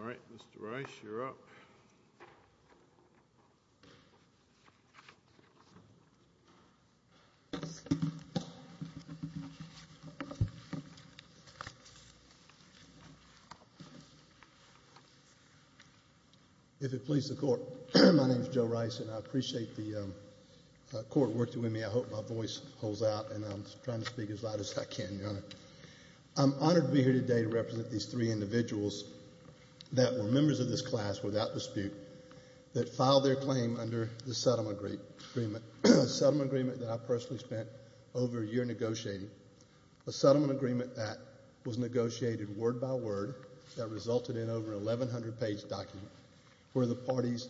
All right, Mr. Rice, you're up. If it pleases the court, my name is Joe Rice and I appreciate the court working with me. I hope my voice holds out and I'm trying to speak as loud as I can, Your Honor. I'm honored to be here today to represent these three individuals that were members of this class without dispute that filed their claim under the settlement agreement that I personally spent over a year negotiating, a settlement agreement that was negotiated word by word that resulted in over an 1,100 page document where the parties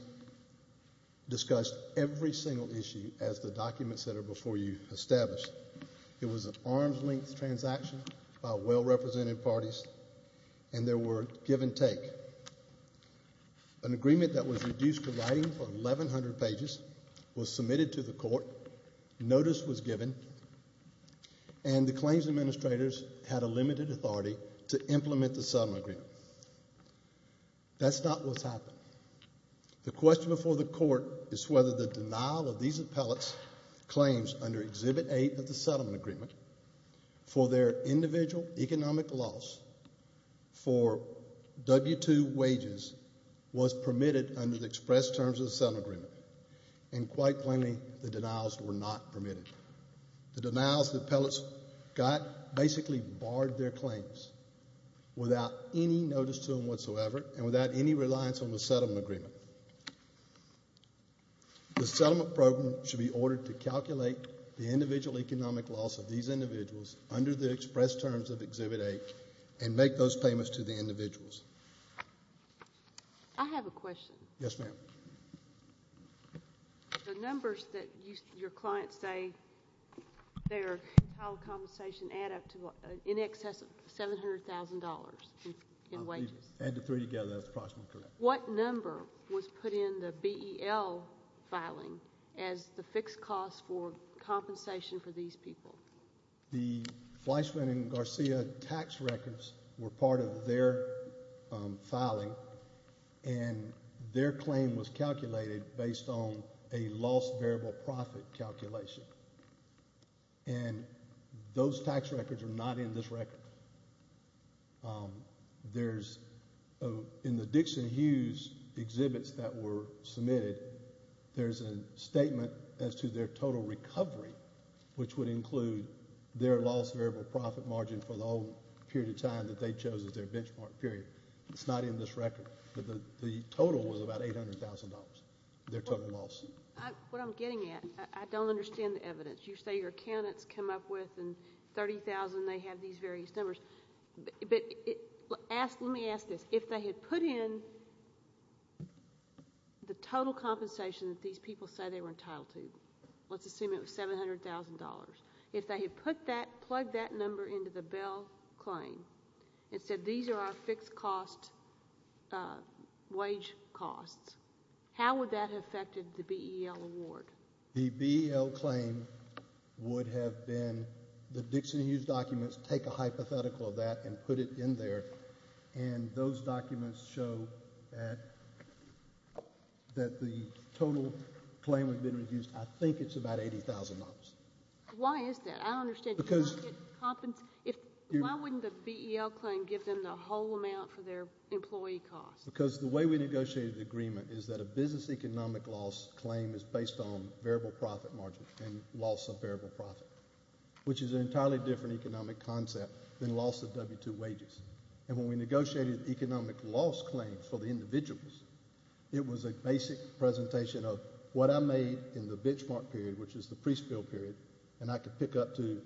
discussed every single issue as the documents that are before you established. It was an arm's-length transaction by well-represented parties and there were give and take. An agreement that was reduced to writing for 1,100 pages was submitted to the court, notice was given, and the claims administrators had a limited authority to implement the settlement agreement. That's not what's happened. The question before the court is whether the denial of these appellate's claims under Exhibit 8 of the settlement agreement for their individual economic loss for W-2 wages was permitted under the express terms of the settlement agreement. And quite plainly, the denials were not permitted. The denials the appellates got basically barred their claims without any notice to them whatsoever and without any reliance on the settlement agreement. The settlement program should be ordered to calculate the individual economic loss of these individuals under the express terms of Exhibit 8 and make those payments to the individuals. I have a question. Yes, ma'am. The numbers that your clients say they are entitled to compensation add up to in excess of $700,000 in wages. Add the three together, that's approximately correct. What number was put in the BEL filing as the fixed cost for compensation for these people? The Fleischman and Garcia tax records were part of their filing, and their claim was calculated based on a lost variable profit calculation. And those tax records are not in this record. In the Dixon-Hughes exhibits that were submitted, there's a statement as to their total recovery, which would include their lost variable profit margin for the whole period of time that they chose as their benchmark period. It's not in this record. But the total was about $800,000, their total loss. What I'm getting at, I don't understand the evidence. You say your accountants come up with, and $30,000, they have these various numbers. But let me ask this, if they had put in the total compensation that these people say they were entitled to, let's assume it was $700,000, if they had put that, plugged that number into the BEL claim and said, these are our fixed cost wage costs, how would that have affected the BEL award? The BEL claim would have been, the Dixon-Hughes documents take a hypothetical of that and put it in there, and those documents show that the total claim would have been reduced, I think it's about $80,000. Why is that? I don't understand. Why wouldn't the BEL claim give them the whole amount for their employee costs? Because the way we negotiated the agreement is that a business economic loss claim is based on variable profit margin, and loss of variable profit, which is an entirely different economic concept than loss of W-2 wages. And when we negotiated economic loss claims for the individuals, it was a basic presentation of what I made in the benchmark period, which is the pre-spill period, and I could pick up to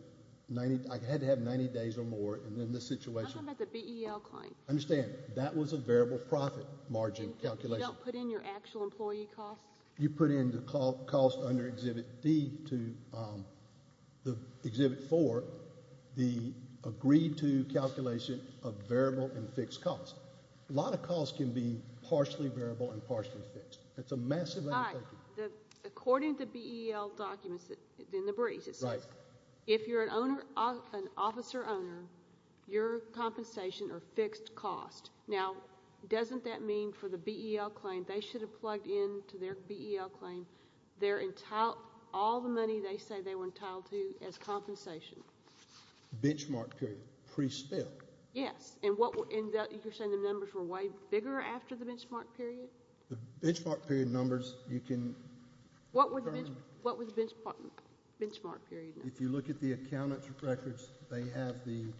90, I had to have 90 days or more, and then the situation- I'm talking about the BEL claim. Understand, that was a variable profit margin calculation. You don't put in your actual employee costs? You put in the cost under Exhibit D to the Exhibit 4, the agreed-to calculation of variable and fixed costs. A lot of costs can be partially variable and partially fixed. It's a massive amount of- Right. According to BEL documents, it's in the briefs, it says, if you're an officer-owner, your compensation or fixed cost, now, doesn't that mean for the BEL claim, they should have plugged in to their BEL claim their entire- all the money they say they were entitled to as compensation? Benchmark period. Pre-spill. Yes. And what- and you're saying the numbers were way bigger after the benchmark period? The benchmark period numbers, you can- What were the benchmark period numbers? If you look at the accountant's records, they have the-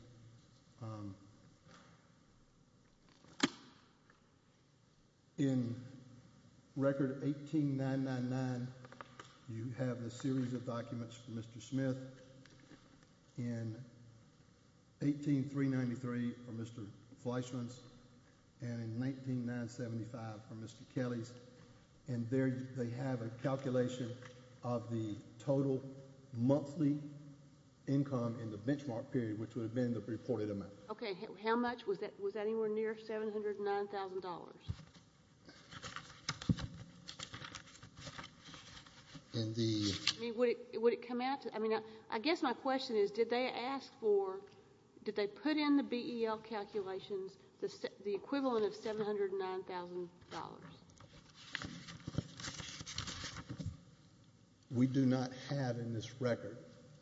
in Record 18-999, you have a series of documents from Mr. Smith. In 18-393, from Mr. Fleischman's. And in 19-975, from Mr. Kelly's. And there, they have a calculation of the total monthly income in the benchmark period, which would have been the reported amount. Okay. How much? Was that anywhere near $709,000? And the- I mean, would it come out to- I mean, I guess my question is, did they ask for- did they put in the BEL calculations the equivalent of $709,000? We do not have in this record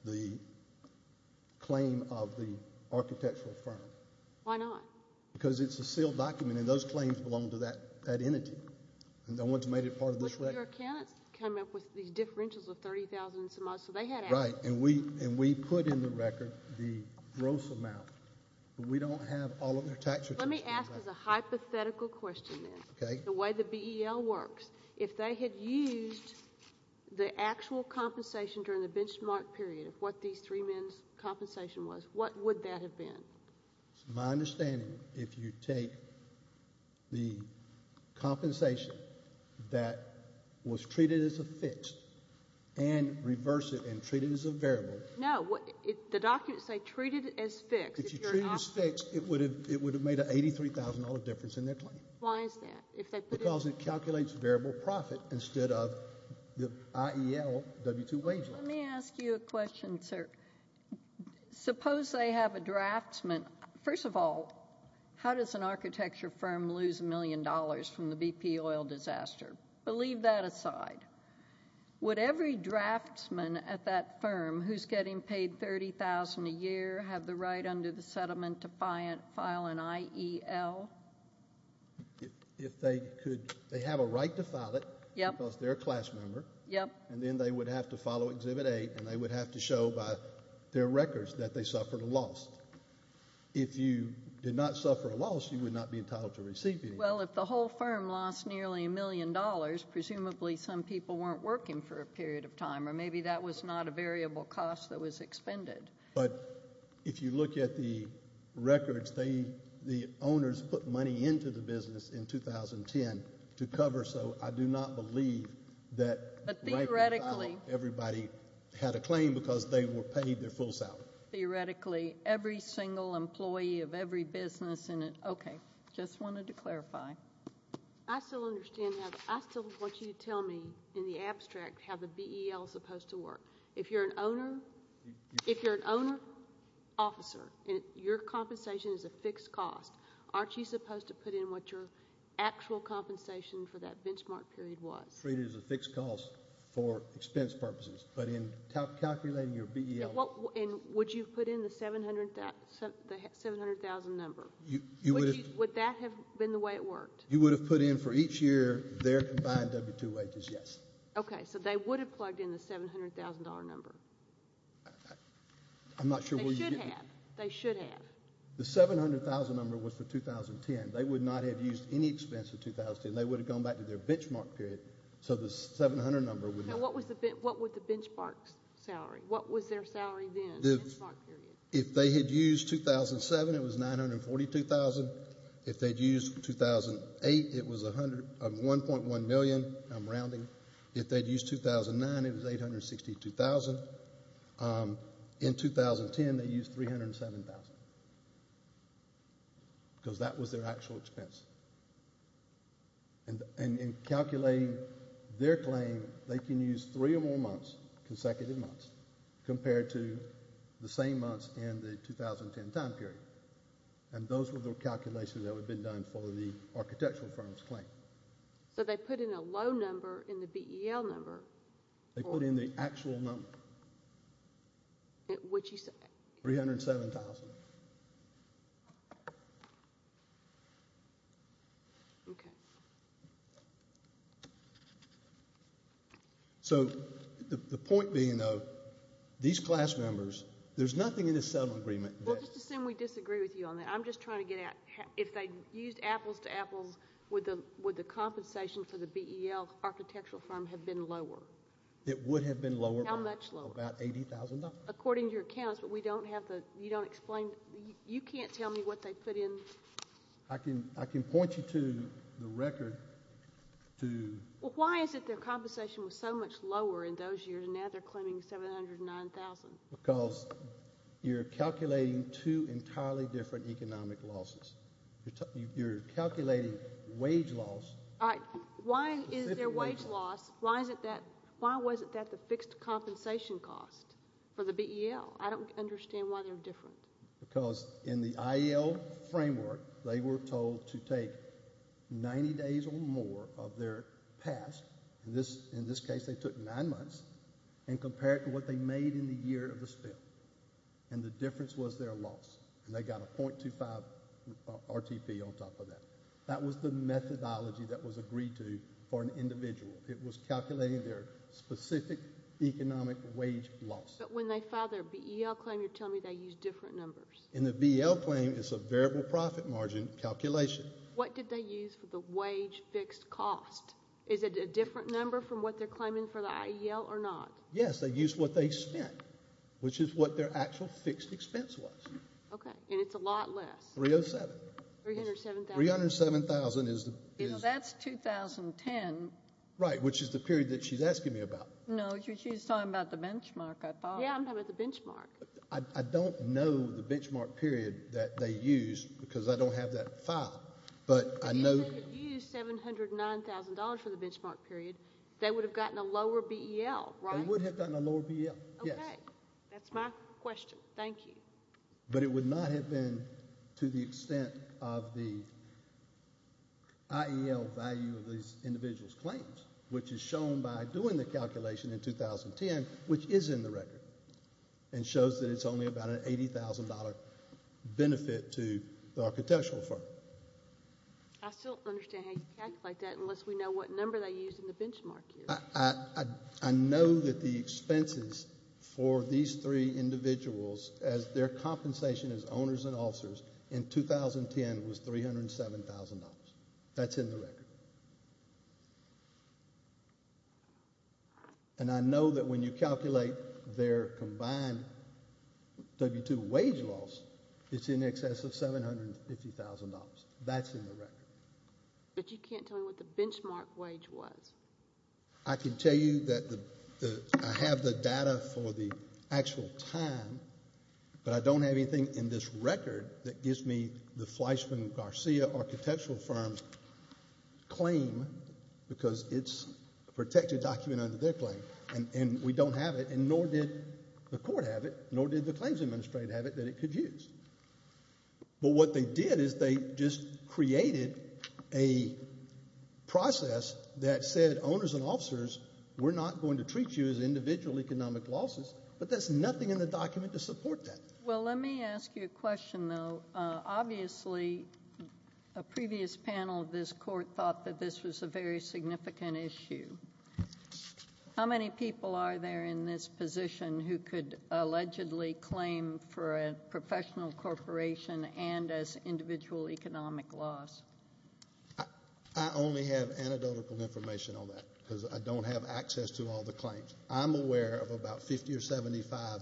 the claim of the architectural firm. Why not? Because it's a sealed document, and those claims belong to that entity. And no one's made it part of this record. But your accountants come up with these differentials of $30,000 and some- so they had access. Right. And we put in the record the gross amount. We don't have all of their tax returns. Let me ask a hypothetical question then. Okay. The way the BEL works, if they had used the actual compensation during the benchmark period of what these three men's compensation was, what would that have been? My understanding, if you take the compensation that was treated as a fixed and reverse it and treat it as a variable- No. The documents say treated as fixed. If you treat it as fixed, it would have made an $83,000 difference in their claim. Why is that? Because it calculates variable profit instead of the IELW2 wage line. Let me ask you a question, sir. Suppose they have a draftsman- First of all, how does an architecture firm lose a million dollars from the BP oil disaster? But leave that aside. Would every draftsman at that firm who's getting paid $30,000 a year have the right under the settlement to file an IEL? If they could- they have a right to file it- Yep. Because they're a class member. Yep. And then they would have to follow Exhibit A, and they would have to show by their records that they suffered a loss. If you did not suffer a loss, you would not be entitled to receive anything. Well, if the whole firm lost nearly a million dollars, presumably some people weren't working for a period of time, or maybe that was not a variable cost that was expended. But if you look at the records, the owners put money into the business in 2010 to cover, so I do not believe that- But theoretically- Everybody had a claim because they were paid their full salary. Theoretically, every single employee of every business in it- okay. Just wanted to clarify. I still understand how- I still want you to tell me in the abstract how the BEL is supposed to work. If you're an owner- if you're an owner, officer, and your compensation is a fixed cost, aren't you supposed to put in what your actual compensation for that benchmark period was? It was treated as a fixed cost for expense purposes. But in calculating your BEL- And would you have put in the $700,000 number? Would that have been the way it worked? You would have put in for each year their combined W-2 wages, yes. Okay. So they would have plugged in the $700,000 number. I'm not sure- They should have. They should have. The $700,000 number was for 2010. They would not have used any expense in 2010. They would have gone back to their benchmark period. So the $700,000 number would not- What was the benchmark salary? What was their salary then? If they had used 2007, it was $942,000. If they'd used 2008, it was $1.1 million. I'm rounding. If they'd used 2009, it was $862,000. In 2010, they used $307,000. Because that was their actual expense. And in calculating their claim, they can use three or more months, consecutive months, compared to the same months in the 2010 time period. And those were the calculations that would have been done for the architectural firm's claim. So they put in a low number in the BEL number. They put in the actual number. What did you say? $307,000. Okay. So the point being, though, these class members, there's nothing in the settlement agreement that- Well, just assume we disagree with you on that. I'm just trying to get at if they used apples to apples, would the compensation for the BEL architectural firm have been lower? It would have been lower by about $80,000. According to your accounts, but we don't have the-you don't explain- you can't tell me what they put in. I can point you to the record to- Well, why is it their compensation was so much lower in those years and now they're claiming $709,000? Because you're calculating two entirely different economic losses. You're calculating wage loss. All right. Why is their wage loss- Why is it that-why wasn't that the fixed compensation cost for the BEL? I don't understand why they're different. Because in the IEL framework, they were told to take 90 days or more of their past- in this case, they took nine months- and compare it to what they made in the year of the spill, and the difference was their loss, and they got a .25 RTP on top of that. That was the methodology that was agreed to for an individual. It was calculating their specific economic wage loss. But when they filed their BEL claim, you're telling me they used different numbers. In the BEL claim, it's a variable profit margin calculation. What did they use for the wage fixed cost? Is it a different number from what they're claiming for the IEL or not? Yes, they used what they spent, which is what their actual fixed expense was. Okay, and it's a lot less. $307,000. $307,000. $307,000 is- That's 2010. Right, which is the period that she's asking me about. No, she's talking about the benchmark, I thought. Yeah, I'm talking about the benchmark. I don't know the benchmark period that they used because I don't have that file, but I know- If you said that you used $709,000 for the benchmark period, they would have gotten a lower BEL, right? They would have gotten a lower BEL, yes. Okay, that's my question. Thank you. But it would not have been to the extent of the IEL value of these individuals' claims, which is shown by doing the calculation in 2010, which is in the record, and shows that it's only about an $80,000 benefit to the architectural firm. I still don't understand how you calculate that unless we know what number they used in the benchmark period. I know that the expenses for these three individuals, as their compensation as owners and officers in 2010 was $307,000. That's in the record. And I know that when you calculate their combined W-2 wage loss, it's in excess of $750,000. That's in the record. But you can't tell me what the benchmark wage was. I can tell you that I have the data for the actual time, but I don't have anything in this record that gives me the Fleischman Garcia architectural firm's claim because it's a protected document under their claim. And we don't have it, and nor did the court have it, nor did the claims administrator have it, that it could use. But what they did is they just created a process that said owners and officers, we're not going to treat you as individual economic losses, but there's nothing in the document to support that. Well, let me ask you a question, though. Obviously, a previous panel of this court thought that this was a very significant issue. How many people are there in this position who could allegedly claim for a professional corporation and as individual economic loss? I only have anecdotal information on that because I don't have access to all the claims. I'm aware of about 50 or 75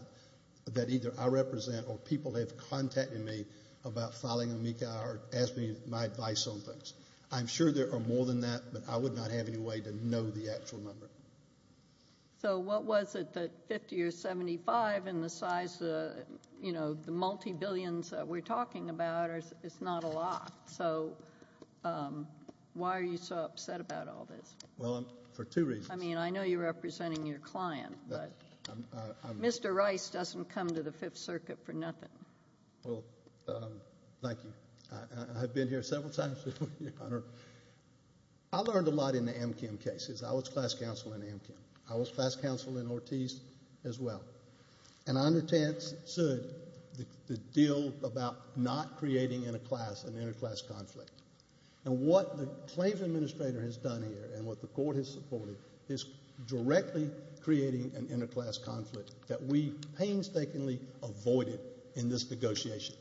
that either I represent or people have contacted me about filing a MECA or asking my advice on things. I'm sure there are more than that, but I would not have any way to know the actual number. So what was it, the 50 or 75, and the size of the multibillions that we're talking about? It's not a lot. So why are you so upset about all this? Well, for two reasons. I mean, I know you're representing your client, but Mr. Rice doesn't come to the Fifth Circuit for nothing. Well, thank you. I've been here several times, Your Honor. I learned a lot in the Amchem cases. I was class counsel in Amchem. I was class counsel in Ortiz as well. And I understood the deal about not creating an interclass conflict. And what the claims administrator has done here and what the court has supported is directly creating an interclass conflict that we painstakingly avoided in this negotiation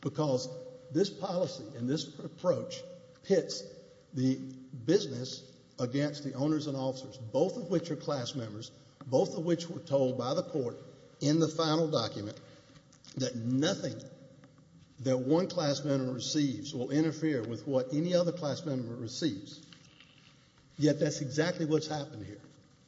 because this policy and this approach pits the business against the owners and officers, both of which are class members, both of which were told by the court in the final document that nothing that one class member receives will interfere with what any other class member receives. Yet that's exactly what's happened here.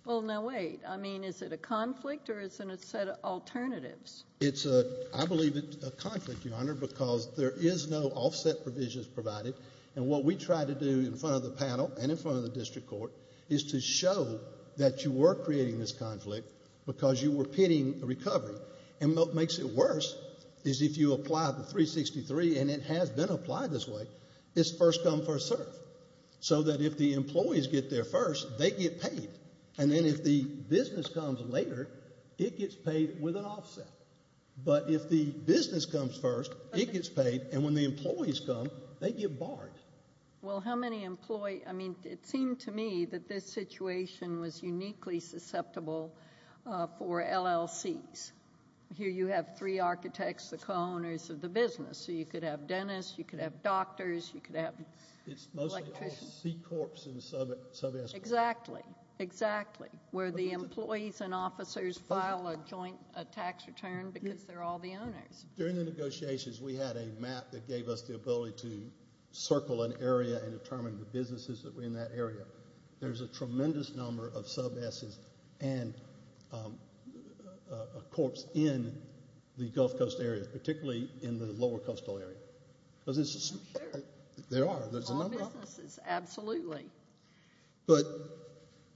Well, now, wait. I mean, is it a conflict or is it a set of alternatives? It's, I believe, a conflict, Your Honor, because there is no offset provisions provided. And what we try to do in front of the panel and in front of the district court is to show that you were creating this conflict because you were pitting recovery. And what makes it worse is if you apply the 363, and it has been applied this way, it's first come, first serve, so that if the employees get there first, they get paid. And then if the business comes later, it gets paid with an offset. But if the business comes first, it gets paid, and when the employees come, they get barred. Well, how many employ... I mean, it seemed to me that this situation was uniquely susceptible for LLCs. Here you have three architects, the co-owners of the business, so you could have dentists, you could have doctors, you could have electricians. It's mostly all C-Corps and sub-SBOs. Exactly, exactly. Where the employees and officers file a joint tax return because they're all the owners. During the negotiations, we had a map that gave us the ability to circle an area and determine the businesses that were in that area. There's a tremendous number of sub-S's and a corps in the Gulf Coast area, particularly in the lower coastal area. I'm sure. There are. There's a number of them. All businesses, absolutely.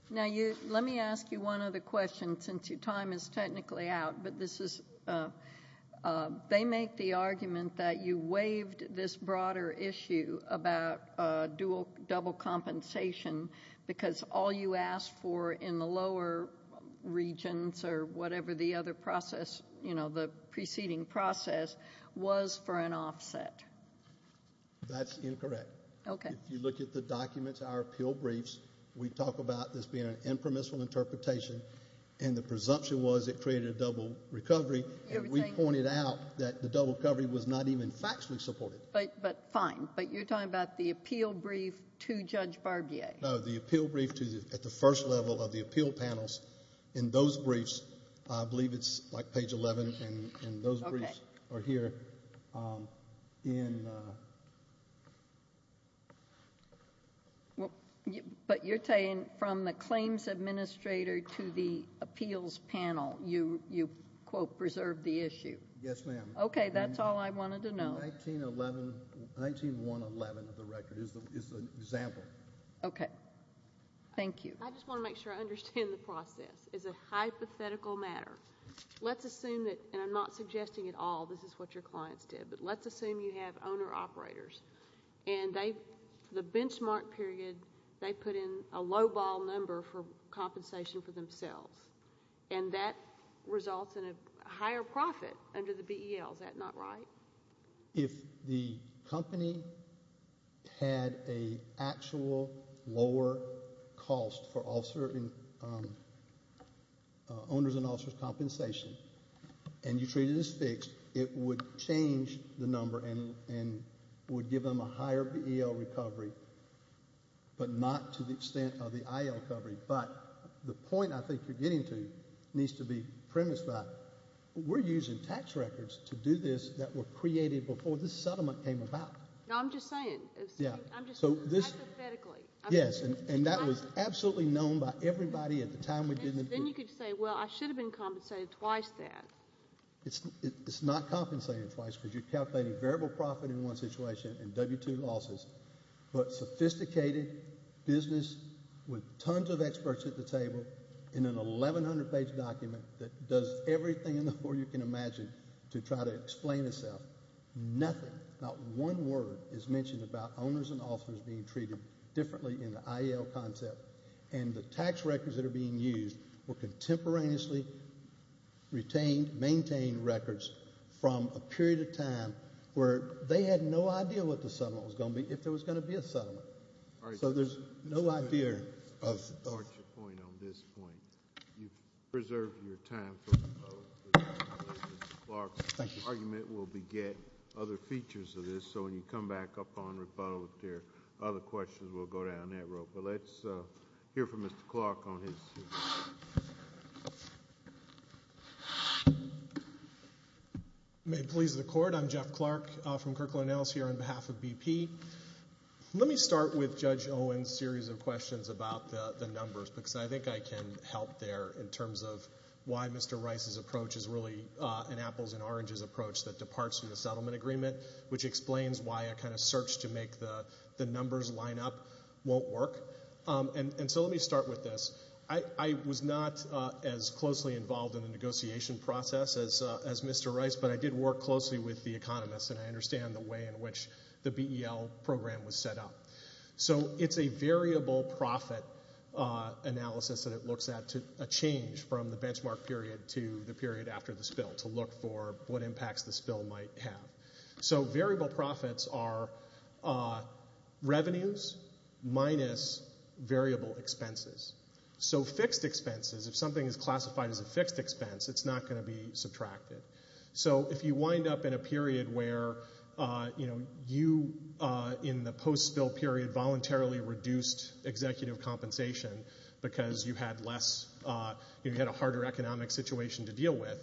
Now, let me ask you one other question, since your time is technically out, but this is... They make the argument that you waived this broader issue about double compensation because all you asked for in the lower regions or whatever the other process, you know, the preceding process, was for an offset. That's incorrect. If you look at the documents, our appeal briefs, we talk about this being an impermissible interpretation, and the presumption was it created a double recovery, and we pointed out that the double recovery was not even factually supported. But fine, but you're talking about the appeal brief to Judge Barbier. No, the appeal brief at the first level of the appeal panels. In those briefs, I believe it's like page 11, and those briefs are here. In... But you're saying from the claims administrator to the appeals panel, you, quote, preserved the issue. Yes, ma'am. Okay, that's all I wanted to know. 1911 of the record is the example. Okay. Thank you. I just want to make sure I understand the process. It's a hypothetical matter. Let's assume that, and I'm not suggesting at all this is what your clients did, but let's assume you have owner-operators, and the benchmark period, they put in a low-ball number for compensation for themselves, and that results in a higher profit under the BEL. Is that not right? If the company had an actual lower cost for owners and officers' compensation, and you treat it as fixed, it would change the number and would give them a higher BEL recovery, but not to the extent of the IL recovery. But the point I think you're getting to needs to be premised by, we're using tax records to do this that were created before this settlement came about. No, I'm just saying. Yeah. I'm just saying, hypothetically. Yes, and that was absolutely known by everybody at the time we did the brief. Then you could say, well, I should have been compensated twice then. It's not compensated twice because you're calculating variable profit in one situation and W-2 losses, but sophisticated business with tons of experts at the table in an 1,100-page document that does everything in the world you can imagine to try to explain itself. Nothing, not one word, is mentioned about owners and officers being treated differently in the IL concept, and the tax records that are being used were contemporaneously retained, maintained records from a period of time where they had no idea what the settlement was going to be if there was going to be a settlement. So there's no idea of... I support your point on this point. You've preserved your time for the vote. Mr. Clark's argument will beget other features of this, so when you come back up on rebuttal, if there are other questions, we'll go down that road. Well, let's hear from Mr. Clark on his... May it please the Court. I'm Jeff Clark from Kirkland & Ellis here on behalf of BP. Let me start with Judge Owen's series of questions about the numbers, because I think I can help there in terms of why Mr. Rice's approach is really an apples-and-oranges approach that departs from the settlement agreement, which explains why a kind of search to make the numbers line up won't work. And so let me start with this. I was not as closely involved in the negotiation process as Mr. Rice, but I did work closely with the economists, and I understand the way in which the BEL program was set up. So it's a variable profit analysis that it looks at a change from the benchmark period to the period after the spill to look for what impacts the spill might have. So variable profits are revenues minus variable expenses. So fixed expenses, if something is classified as a fixed expense, it's not going to be subtracted. So if you wind up in a period where, you know, you in the post-spill period voluntarily reduced executive compensation because you had less... you had a harder economic situation to deal with,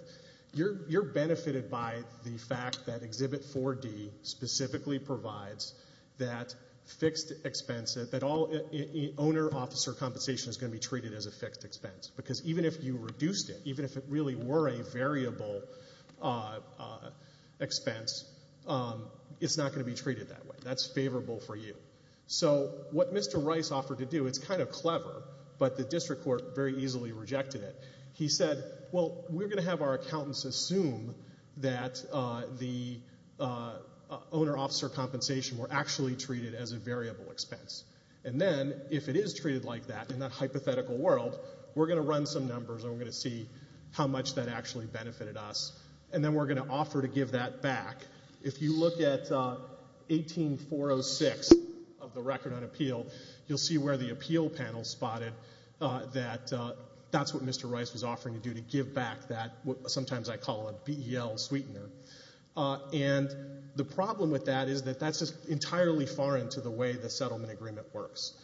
you're benefited by the fact that Exhibit 4D specifically provides that fixed expense, that all owner-officer compensation is going to be treated as a fixed expense. Because even if you reduced it, even if it really were a variable expense, it's not going to be treated that way. That's favorable for you. So what Mr. Rice offered to do, it's kind of clever, but the district court very easily rejected it. He said, well, we're going to have our accountants assume that the owner-officer compensation were actually treated as a variable expense. And then if it is treated like that in that hypothetical world, we're going to run some numbers and we're going to see how much that actually benefited us. And then we're going to offer to give that back. If you look at 18406 of the Record on Appeal, you'll see where the appeal panel spotted that that's what Mr. Rice was offering to do, to give back that what sometimes I call a BEL sweetener. And the problem with that is that that's just entirely foreign to the way the settlement agreement works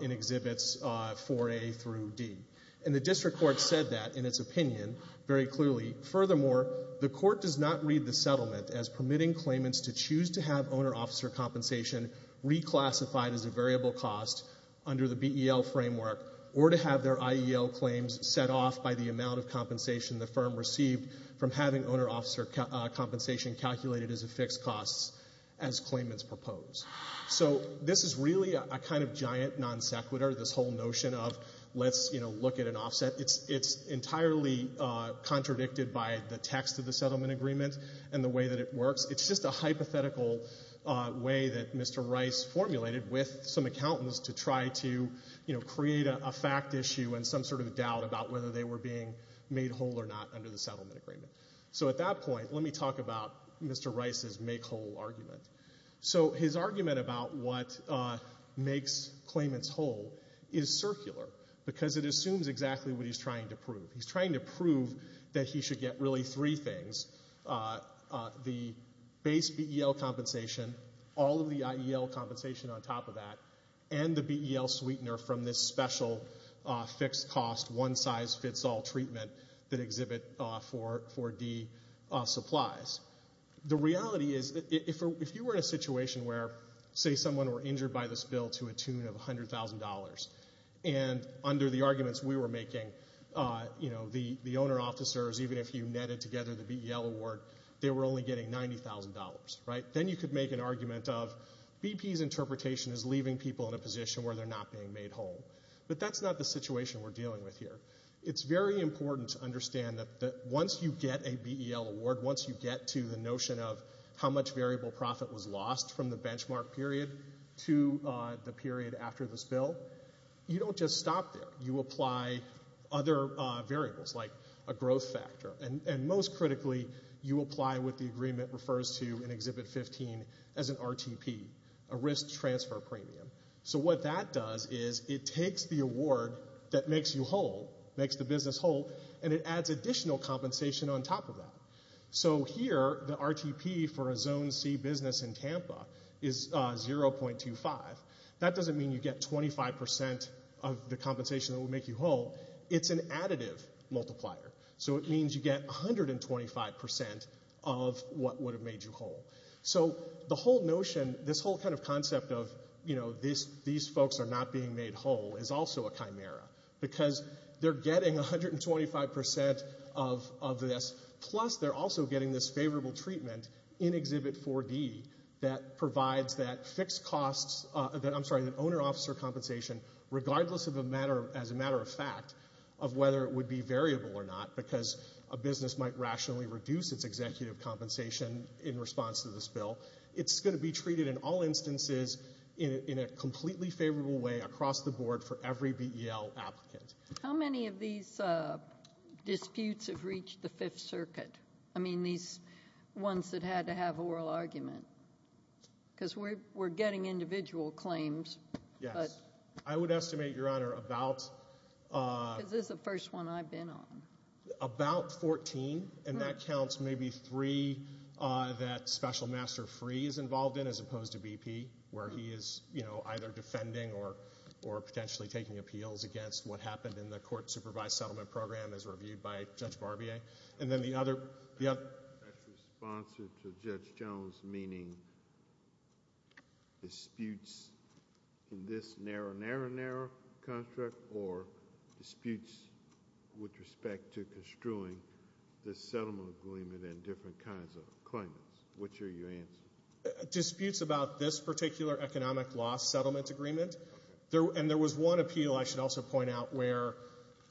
in Exhibits 4A through D. And the district court said that in its opinion very clearly. Furthermore, the court does not read the settlement as permitting claimants to choose to have owner-officer compensation reclassified as a variable cost under the BEL framework or to have their IEL claims set off by the amount of compensation the firm received from having owner-officer compensation calculated as a fixed cost as claimants propose. So this is really a kind of giant non sequitur, this whole notion of let's, you know, look at an offset. It's entirely contradicted by the text of the settlement agreement and the way that it works. It's just a hypothetical way that Mr. Rice formulated with some accountants to try to, you know, create a fact issue and some sort of doubt about whether they were being made whole or not under the settlement agreement. So at that point, let me talk about Mr. Rice's make-whole argument. So his argument about what makes claimants whole is circular because it assumes exactly what he's trying to prove. He's trying to prove that he should get really three things, the base BEL compensation, all of the IEL compensation on top of that, and the BEL sweetener from this special fixed cost, one-size-fits-all treatment that exhibit 4D supplies. The reality is that if you were in a situation where, say, someone were injured by this bill to a tune of $100,000, and under the arguments we were making, you know, the owner-officers, even if you netted together the BEL award, they were only getting $90,000, right? Then you could make an argument of BP's interpretation is leaving people in a position where they're not being made whole. But that's not the situation we're dealing with here. It's very important to understand that once you get a BEL award, once you get to the notion of how much variable profit was lost from the benchmark period to the period after this bill, you don't just stop there. You apply other variables, like a growth factor. And most critically, you apply what the agreement refers to in Exhibit 15 as an RTP, a risk-transfer premium. So what that does is it takes the award that makes you whole, makes the business whole, and it adds additional compensation on top of that. So here, the RTP for a Zone C business in Tampa is 0.25. That doesn't mean you get 25% of the compensation that would make you whole. It's an additive multiplier. So it means you get 125% of what would have made you whole. So the whole notion, this whole kind of concept of, you know, these folks are not being made whole is also a chimera because they're getting 125% of this, plus they're also getting this favorable treatment in Exhibit 4D that provides that fixed costs... I'm sorry, that owner-officer compensation, regardless of a matter... as a matter of fact, of whether it would be variable or not, because a business might rationally reduce its executive compensation in response to this bill. It's going to be treated in all instances in a completely favorable way across the board for every BEL applicant. How many of these disputes have reached the Fifth Circuit? I mean, these ones that had to have oral argument. Because we're getting individual claims, but... Yes. I would estimate, Your Honor, about... Because this is the first one I've been on. About 14, and that counts maybe three that Special Master Free is involved in, as opposed to BP, where he is, you know, either defending or potentially taking appeals against what happened in the court-supervised settlement program as reviewed by Judge Barbier. And then the other... That's responsive to Judge Jones, meaning disputes in this narrow, narrow, narrow contract or disputes with respect to construing the settlement agreement and different kinds of claimants. Which are your answers? Disputes about this particular economic loss settlement agreement. And there was one appeal I should also point out where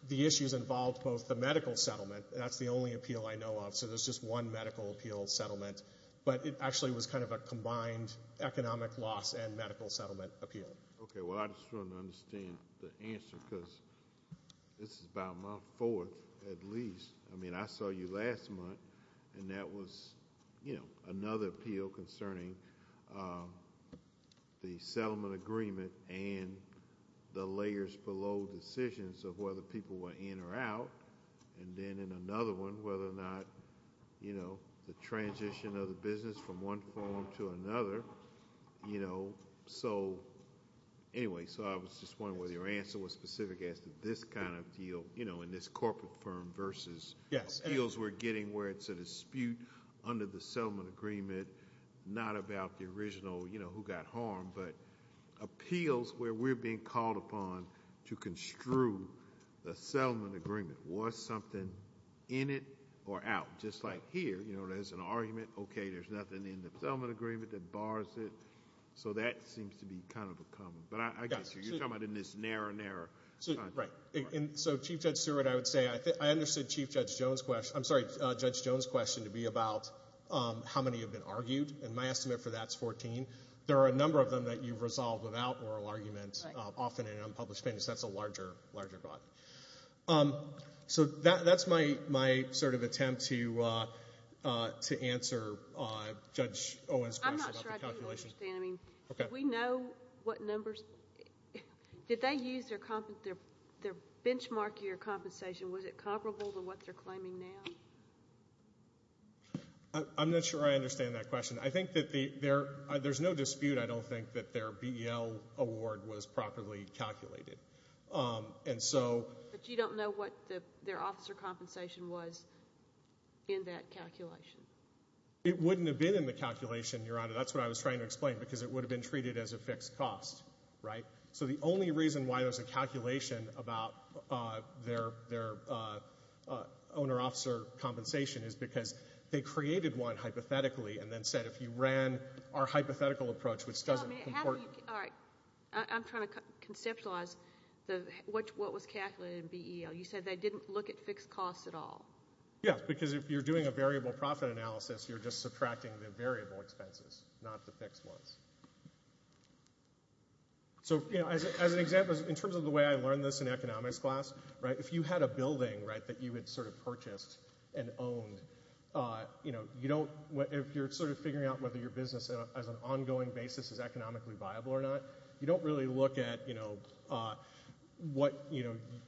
the issues involved both the medical settlement... That's the only appeal I know of, so there's just one medical appeal settlement. But it actually was kind of a combined economic loss and medical settlement appeal. Okay, well, I just want to understand the answer, because this is about my fourth at least. I mean, I saw you last month, and that was, you know, another appeal concerning the settlement agreement and the layers below decisions of whether people were in or out. And then in another one, whether or not, you know, the transition of the business from one forum to another, you know, so anyway. So I was just wondering whether your answer was specific as to this kind of deal, you know, in this corporate firm versus appeals we're getting where it's a dispute under the settlement agreement, not about the original, you know, who got harmed, but appeals where we're being called upon to construe the settlement agreement. Was something in it or out? Just like here, you know, there's an argument. Okay, there's nothing in the settlement agreement that prohibits it, that bars it. So that seems to be kind of a problem. But I guess you're talking about in this narrower and narrower... Right, and so, Chief Judge Seward, I would say, I understood Chief Judge Jones' question. I'm sorry, Judge Jones' question to be about how many have been argued, and my estimate for that's 14. There are a number of them that you've resolved without oral argument, often in unpublished plaintiffs. That's a larger, larger problem. So that's my sort of attempt to answer Judge Owen's question about the calculation. I'm not sure I do understand. Did we know what numbers... Did they use their benchmark year compensation? Was it comparable to what they're claiming now? I'm not sure I understand that question. I think that there's no dispute, I don't think, that their BEL award was properly calculated. But you don't know what their officer compensation was? In that calculation. It wouldn't have been in the calculation, Your Honor. That's what I was trying to explain, because it would have been treated as a fixed cost, right? So the only reason why there's a calculation about their owner-officer compensation is because they created one hypothetically and then said, if you ran our hypothetical approach, which doesn't comport... All right, I'm trying to conceptualize what was calculated in BEL. You said they didn't look at fixed costs at all. Yes, because if you're doing a variable profit analysis, you're just subtracting the variable expenses, not the fixed ones. So, you know, as an example, in terms of the way I learned this in economics class, right, if you had a building, right, that you had sort of purchased and owned, you know, you don't... If you're sort of figuring out whether your business you don't really look at, you know, what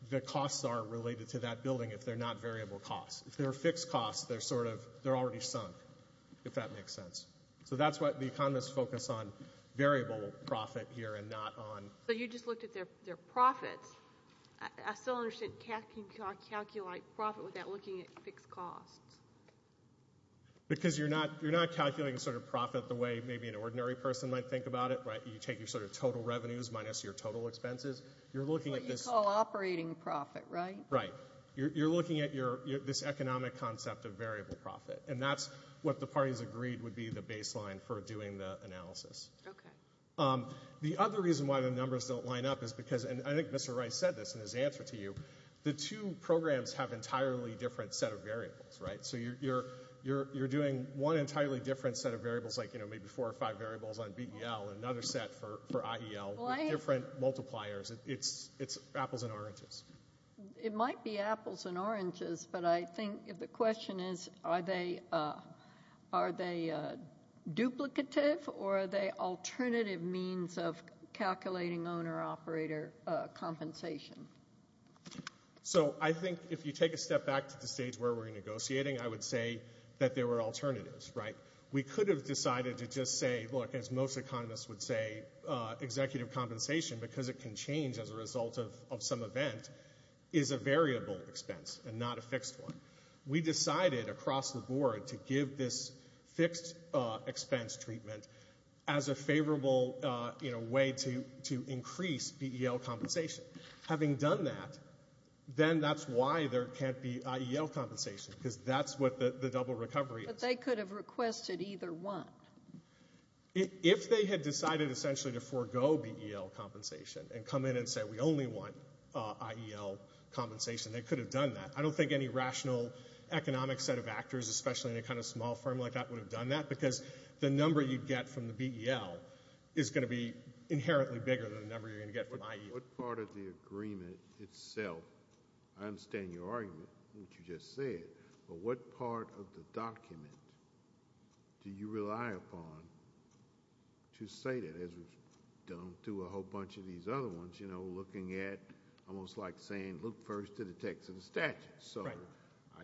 the costs are related to that building if they're not variable costs. If they're fixed costs, they're sort of... They're already sunk, if that makes sense. So that's what the economists focus on, variable profit here and not on... But you just looked at their profits. I still don't understand how you can calculate profit without looking at fixed costs. Because you're not calculating sort of profit the way maybe an ordinary person might think about it, right? You take your sort of total revenues minus your total expenses. You're looking at this... What you call operating profit, right? Right. You're looking at this economic concept of variable profit. And that's what the parties agreed would be the baseline for doing the analysis. Okay. The other reason why the numbers don't line up is because... And I think Mr. Rice said this in his answer to you. The two programs have entirely different set of variables, right? So you're doing one entirely different set of variables, like, you know, maybe four or five variables on BEL and another set for IEL with different multipliers. It's apples and oranges. It might be apples and oranges, but I think the question is, are they duplicative or are they alternative means of calculating owner-operator compensation? So I think if you take a step back to the stage where we're negotiating, I would say that there were alternatives, right? We could have decided to just say, look, as most economists would say, executive compensation, because it can change as a result of some event, is a variable expense and not a fixed one. We decided across the board to give this fixed expense treatment as a favorable, you know, way to increase BEL compensation. Having done that, then that's why there can't be IEL compensation, because that's what the double recovery is. But they could have requested either one. If they had decided, essentially, to forego BEL compensation and come in and say, we only want IEL compensation, they could have done that. I don't think any rational economic set of actors, especially in a kind of small firm like that, would have done that, because the number you'd get from the BEL is going to be inherently bigger than the number you're going to get from IEL. What part of the agreement itself... I understand your argument, what you just said, but what part of the document do you rely upon to say that, as we've done through a whole bunch of these other ones, you know, looking at, almost like saying, look first to the text of the statute. So I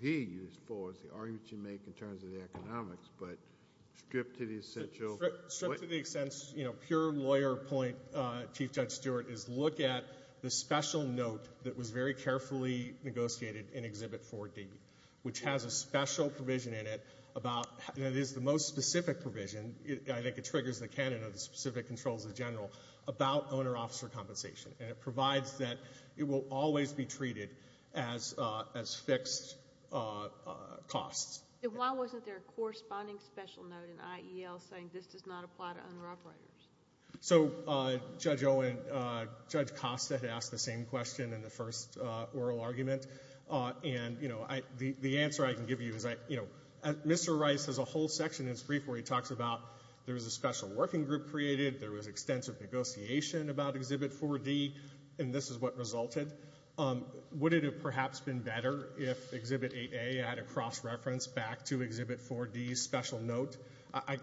hear you as far as the argument you make in terms of the economics, but stripped to the essential... Stripped to the extent, you know, pure lawyer point, Chief Judge Stewart, is look at the special note that was very carefully negotiated in Exhibit 4D, which has a special provision in it about... And it is the most specific provision. I think it triggers the canon of the specific controls of the general about owner-officer compensation, and it provides that it will always be treated as fixed costs. Then why wasn't there a corresponding special note in IEL saying this does not apply to owner-operators? So, Judge Owen, Judge Costa had asked the same question, in the first oral argument. And, you know, the answer I can give you is, you know, Mr. Rice has a whole section in his brief where he talks about there was a special working group created, there was extensive negotiation about Exhibit 4D, and this is what resulted. Would it have perhaps been better if Exhibit 8A had a cross-reference back to Exhibit 4D's special note?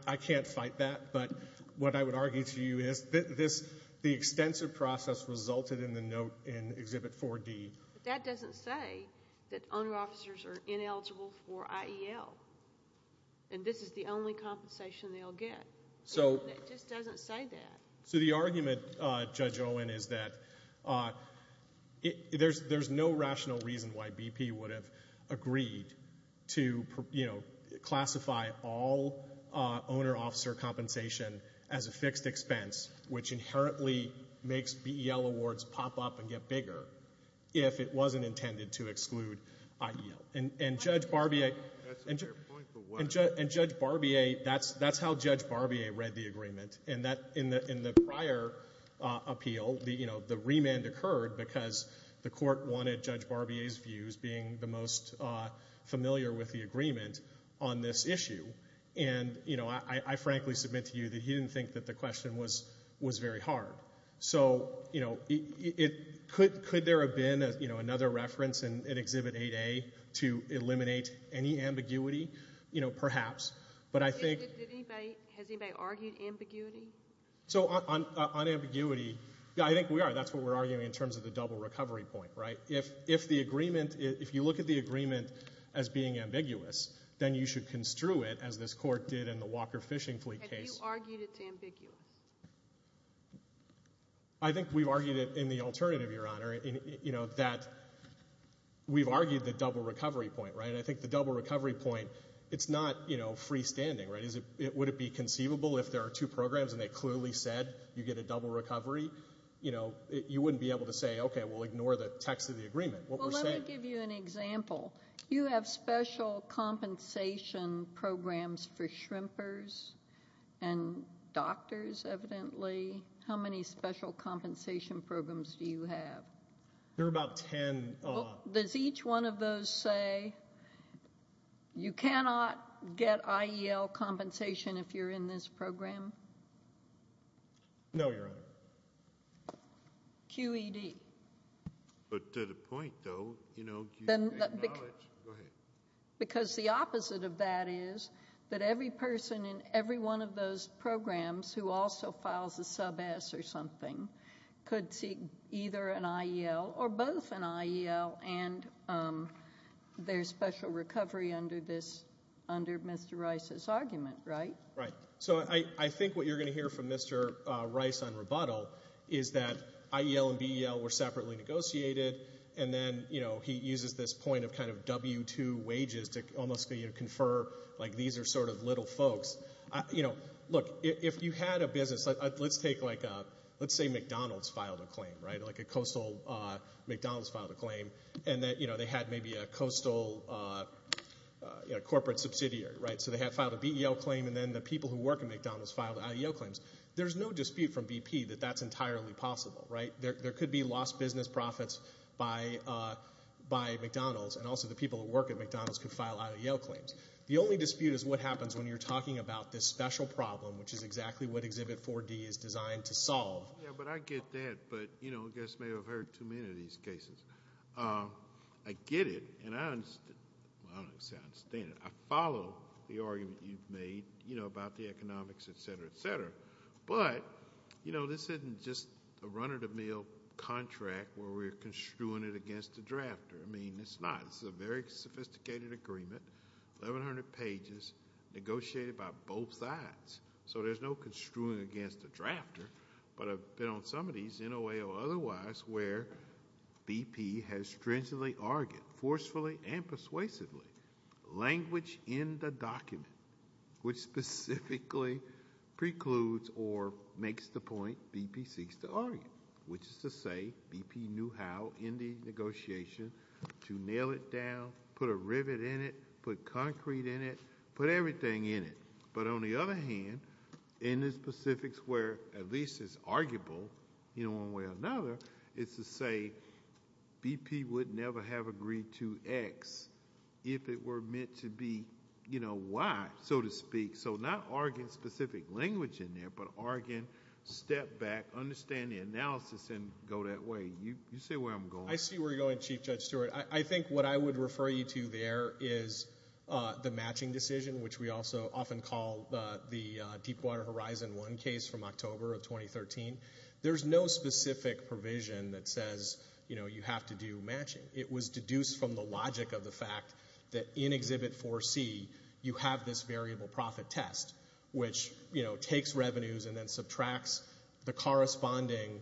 I can't fight that, but what I would argue to you is the extensive process resulted in the note in Exhibit 4D. But that doesn't say that owner-officers are ineligible for IEL, and this is the only compensation they'll get. That just doesn't say that. So the argument, Judge Owen, is that there's no rational reason why BP would have agreed to, you know, classify all owner-officer compensation as a fixed expense, which inherently makes BEL awards pop up and get bigger if it wasn't intended to exclude IEL. And Judge Barbier... And Judge Barbier... That's how Judge Barbier read the agreement. In the prior appeal, you know, the remand occurred because the court wanted Judge Barbier's views being the most familiar with the agreement on this issue. And, you know, I frankly submit to you that he didn't think that the question was very hard. So, you know, could there have been, you know, another reference in Exhibit 8A to eliminate any ambiguity? You know, perhaps, but I think... Has anybody argued ambiguity? So on ambiguity, yeah, I think we are. That's what we're arguing in terms of the double recovery point, right? If the agreement... If you look at the agreement as being ambiguous, then you should construe it, as this court did in the Walker Fishing Fleet case. Have you argued it's ambiguous? I think we've argued it in the alternative, Your Honor. You know, that... We've argued the double recovery point, right? And I think the double recovery point, it's not, you know, freestanding, right? Would it be conceivable if there are two programs and they clearly said you get a double recovery? You know, you wouldn't be able to say, okay, we'll ignore the text of the agreement. Well, let me give you an example. You have special compensation programs for shrimpers and doctors, evidently. How many special compensation programs do you have? There are about 10. Does each one of those say you cannot get IEL compensation if you're in this program? No, Your Honor. QED. But to the point, though, you know... Because the opposite of that is that every person in every one of those programs who also files a sub-S or something could seek either an IEL or both an IEL and their special recovery under Mr. Rice's argument, right? Right. So I think what you're going to hear from Mr. Rice on rebuttal is that IEL and BEL were separately negotiated, and then, you know, he uses this point of kind of W-2 wages to almost, you know, confer, like, these are sort of little folks. You know, look, if you had a business... Let's take, like, let's say McDonald's filed a claim, right? Like, a coastal McDonald's filed a claim, and that, you know, they had maybe a coastal corporate subsidiary, right? So they filed a BEL claim, and then the people who work at McDonald's filed IEL claims. There's no dispute from BP that that's entirely possible, right? There could be lost business profits by McDonald's, and also the people who work at McDonald's could file IEL claims. The only dispute is what happens when you're talking about this special problem, which is exactly what Exhibit 4D is designed to solve. Yeah, but I get that, but, you know, I guess I may have heard too many of these cases. I get it, and I understand it. I follow the argument you've made, you know, about the economics, et cetera, et cetera, but, you know, this isn't just a run-of-the-mill contract where we're construing it against a drafter. I mean, it's not. This is a very sophisticated agreement, 1,100 pages, negotiated by both sides, so there's no construing against a drafter, but I've been on some of these, in a way or otherwise, where BP has stringently argued, forcefully and persuasively, language in the document which specifically precludes or makes the point BP seeks to argue, which is to say BP knew how, in the negotiation, to nail it down, put a rivet in it, put concrete in it, put everything in it, but on the other hand, in the specifics where at least it's arguable, you know, one way or another, it's to say BP would never have agreed to X if it were meant to be Y, so to speak, so not argue specific language in there, but argue, step back, understand the analysis, and go that way. You see where I'm going? I see where you're going, Chief Judge Stewart. I think what I would refer you to there is the matching decision, which we also often call the Deepwater Horizon I case from October of 2013. There's no specific provision that says, you know, you have to do matching. It was deduced from the logic of the fact that in Exhibit 4C, you have this variable profit test, which, you know, takes revenues and then subtracts the corresponding,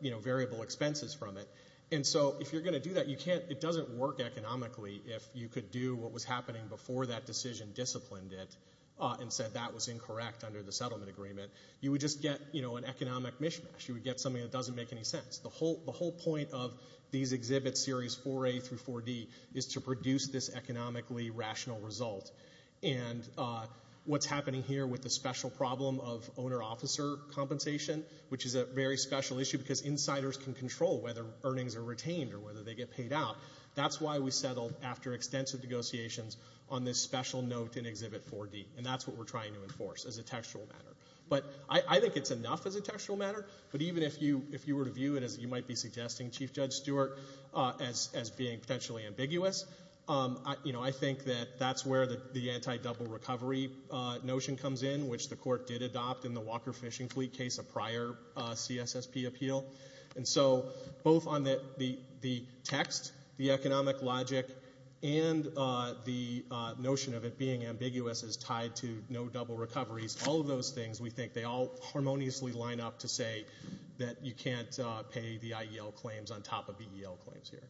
you know, variable expenses from it, and so if you're going to do that, it doesn't work economically if you could do what was happening before that decision disciplined it and said that was incorrect under the settlement agreement. You would just get, you know, an economic mishmash. You would get something that doesn't make any sense. The whole point of these Exhibit Series 4A through 4D is to produce this economically rational result, and what's happening here with the special problem of owner-officer compensation, which is a very special issue because insiders can control whether earnings are retained or whether they get paid out, that's why we settled after extensive negotiations on this special note in Exhibit 4D, and that's what we're trying to enforce as a textual matter. But I think it's enough as a textual matter, but even if you were to view it, as you might be suggesting, Chief Judge Stewart, as being potentially ambiguous, you know, I think that that's where the anti-double-recovery notion comes in, which the Court did adopt in the Walker Fishing Fleet case, a prior CSSP appeal. And so both on the text, the economic logic, and the notion of it being ambiguous as tied to no double recoveries, all of those things, we think, they all harmoniously line up to say that you can't pay the IEL claims on top of EEL claims here.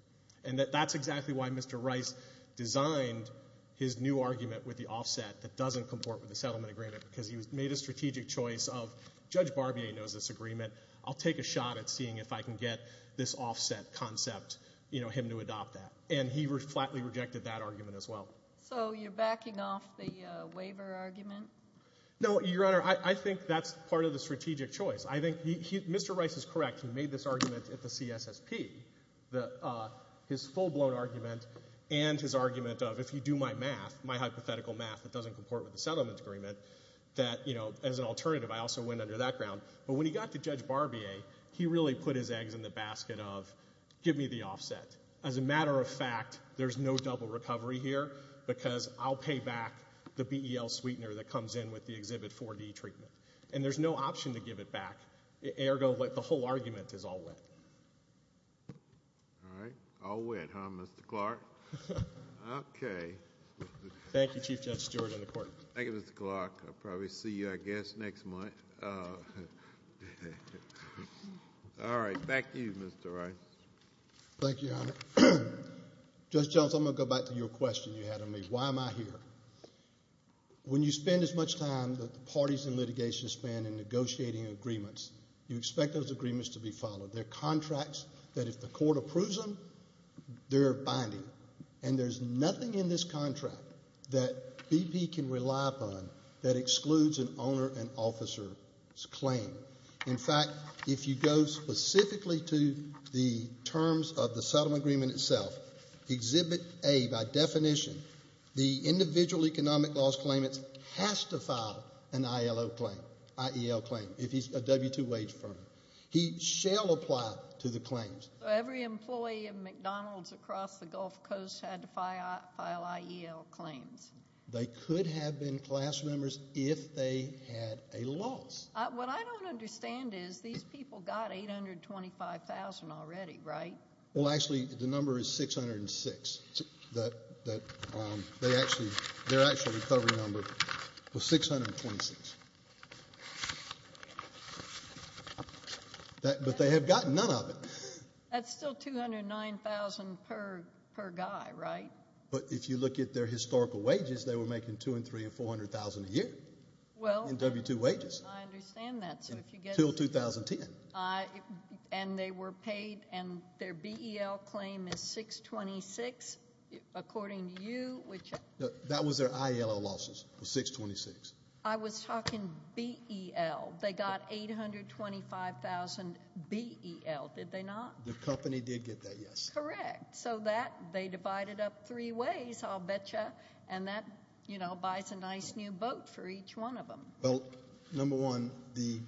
And that that's exactly why Mr. Rice designed his new argument with the offset that doesn't comport with the settlement agreement, because he made a strategic choice of, Judge Barbier knows this agreement, I'll take a shot at seeing if I can get this offset concept, you know, him to adopt that. And he flatly rejected that argument as well. So you're backing off the waiver argument? No, Your Honor, I think that's part of the strategic choice. I think Mr. Rice is correct. He made this argument at the CSSP, his full-blown argument, and his argument of, if you do my math, my hypothetical math that doesn't comport with the settlement agreement, that, you know, as an alternative, I also went under that ground. But when he got to Judge Barbier, he really put his eggs in the basket of, give me the offset. As a matter of fact, there's no double recovery here, because I'll pay back the BEL sweetener that comes in with the Exhibit 4D treatment. And there's no option to give it back. Ergo, the whole argument is all wet. All right. All wet, huh, Mr. Clark? Okay. Thank you, Chief Judge Stewart, and the Court. Thank you, Mr. Clark. I'll probably see you, I guess, next month. All right. Back to you, Mr. Rice. Thank you, Your Honor. Judge Jones, I'm going to go back to your question you had on me. Why am I here? When you spend as much time that the parties in litigation spend in negotiating agreements, you expect those agreements to be followed. They're contracts that if the Court approves them, they're binding. And there's nothing in this contract that BP can rely upon that excludes an owner and officer's claim. In fact, if you go specifically to the terms of the settlement agreement itself, Exhibit A, by definition, the individual economic loss claimant has to file an ILO claim, IEL claim, if he's a W-2 wage firm. He shall apply to the claims. Every employee at McDonald's across the Gulf Coast had to file IEL claims. They could have been class members if they had a loss. What I don't understand is these people got $825,000 already, right? Well, actually, the number is 606. Their actual recovery number was 626. But they have gotten none of it. That's still $209,000 per guy, right? But if you look at their historical wages, they were making $200,000 and $300,000 and $400,000 a year in W-2 wages. I understand that. Until 2010. And they were paid, and their BEL claim is 626, according to you. That was their ILO losses, was 626. I was talking BEL. They got $825,000 BEL, did they not? The company did get that, yes. Correct. So that they divided up three ways, I'll bet you, and that buys a nice new boat for each one of them. Well, number one, the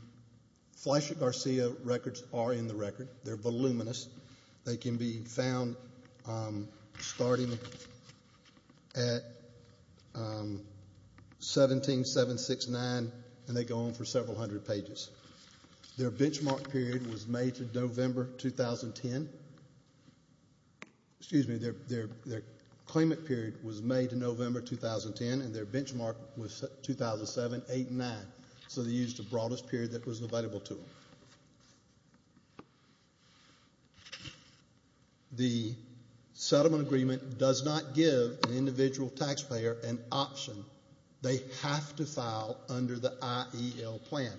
Fleischer-Garcia records are in the record. They're voluminous. They can be found starting at 17769, and they go on for several hundred pages. Their benchmark period was May to November 2010. Excuse me, their claimant period was May to November 2010, and their benchmark was 2007-08-09. So they used the broadest period that was available to them. The settlement agreement does not give an individual taxpayer an option. They have to file under the IEL plan.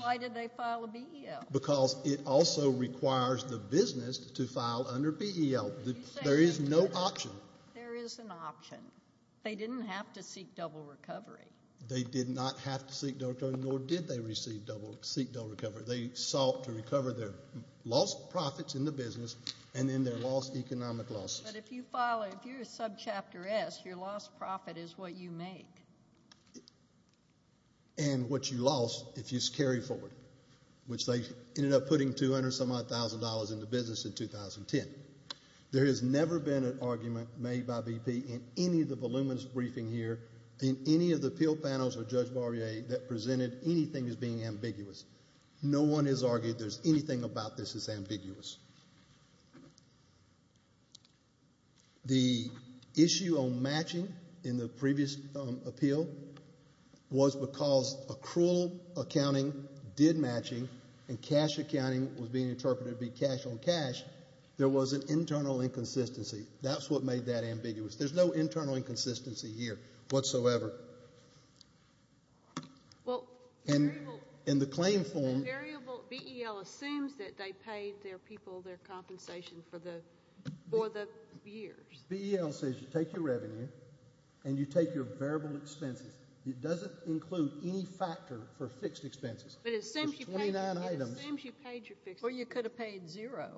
Why did they file a BEL? Because it also requires the business to file under BEL. There is no option. There is an option. They didn't have to seek double recovery. They did not have to seek double recovery, nor did they seek double recovery. They sought to recover their lost profits in the business and then their lost economic losses. But if you're a subchapter S, your lost profit is what you make. And what you lost if you carry forward, which they ended up putting $200,000 into business in 2010. There has never been an argument made by BP in any of the voluminous briefing here in any of the appeal panels of Judge Barbier that presented anything as being ambiguous. No one has argued there's anything about this that's ambiguous. The issue on matching in the previous appeal was because accrual accounting did matching and cash accounting was being interpreted to be cash on cash. There was an internal inconsistency. That's what made that ambiguous. There's no internal inconsistency here whatsoever. Well, the variable BEL assumes that they paid their people their compensation for the years. BEL says you take your revenue and you take your variable expenses. It doesn't include any factor for fixed expenses. But it assumes you paid your fixed expenses. Well, you could have paid zero,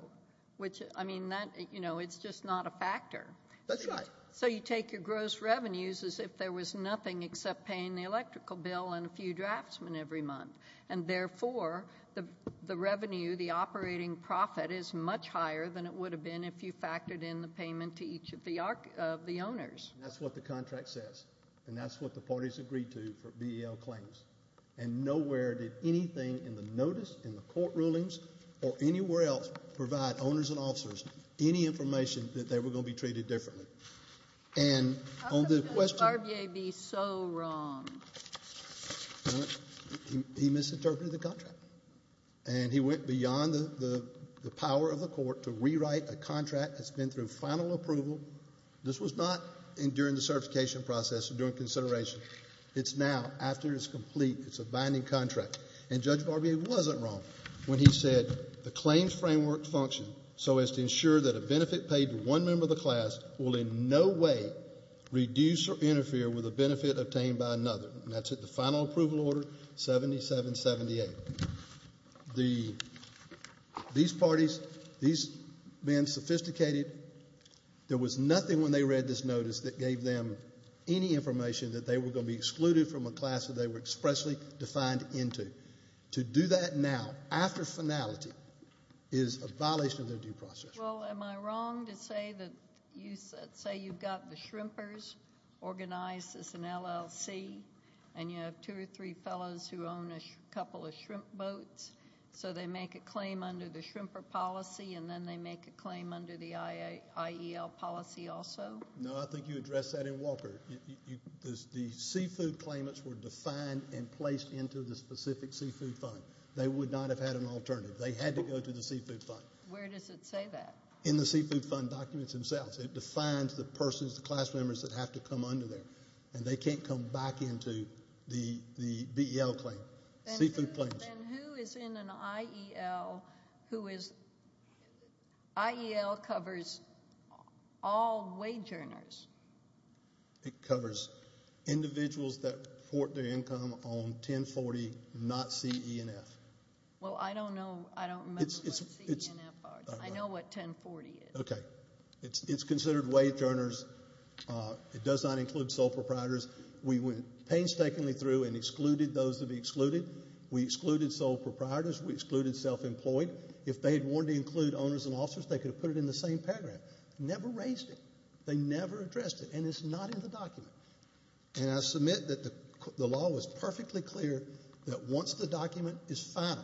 which, I mean, it's just not a factor. That's right. So you take your gross revenues as if there was nothing except paying the electrical bill and a few draftsmen every month. And, therefore, the revenue, the operating profit, is much higher than it would have been if you factored in the payment to each of the owners. That's what the contract says. And that's what the parties agreed to for BEL claims. And nowhere did anything in the notice, in the court rulings, or anywhere else provide owners and officers any information that they were going to be treated differently. And on the question— How come did Barbier be so wrong? He misinterpreted the contract. And he went beyond the power of the court to rewrite a contract that's been through final approval. This was not during the certification process or during consideration. It's now, after it's complete, it's a binding contract. And Judge Barbier wasn't wrong when he said the claims framework functioned so as to ensure that a benefit paid to one member of the class will in no way reduce or interfere with a benefit obtained by another. And that's at the final approval order 7778. These parties, these men, sophisticated. There was nothing when they read this notice that gave them any information that they were going to be excluded from a class that they were expressly defined into. To do that now, after finality, is a violation of their due process. Well, am I wrong to say that you've got the Shrimpers organized as an LLC, and you have two or three fellows who own a couple of shrimp boats, so they make a claim under the Shrimper policy and then they make a claim under the IEL policy also? No, I think you addressed that in Walker. The seafood claimants were defined and placed into the specific seafood fund. They would not have had an alternative. They had to go to the seafood fund. Where does it say that? In the seafood fund documents themselves. It defines the persons, the class members that have to come under there. And they can't come back into the BEL claim. Then who is in an IEL who is IEL covers all wage earners? It covers individuals that report their income on 1040, not C, E, and F. Well, I don't know. I don't remember what C, E, and F are. I know what 1040 is. Okay. It's considered wage earners. It does not include sole proprietors. We went painstakingly through and excluded those that would be excluded. We excluded sole proprietors. We excluded self-employed. If they had wanted to include owners and officers, they could have put it in the same paragraph. Never raised it. They never addressed it. And it's not in the document. And I submit that the law was perfectly clear that once the document is found,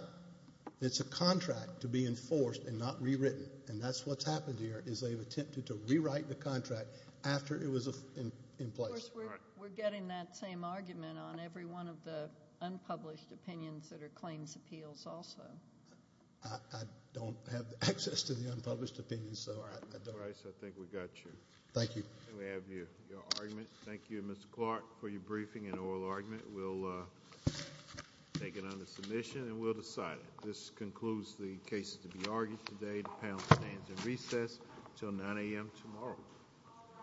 it's a contract to be enforced and not rewritten. And that's what's happened here is they've attempted to rewrite the contract after it was in place. Of course, we're getting that same argument on every one of the unpublished opinions that are claims appeals also. I don't have access to the unpublished opinions. I think we got you. Thank you. We have your argument. Thank you, Mr. Clark, for your briefing and oral argument. We'll take it under submission and we'll decide it. This concludes the cases to be argued today. The panel stands in recess until 9 a.m. tomorrow.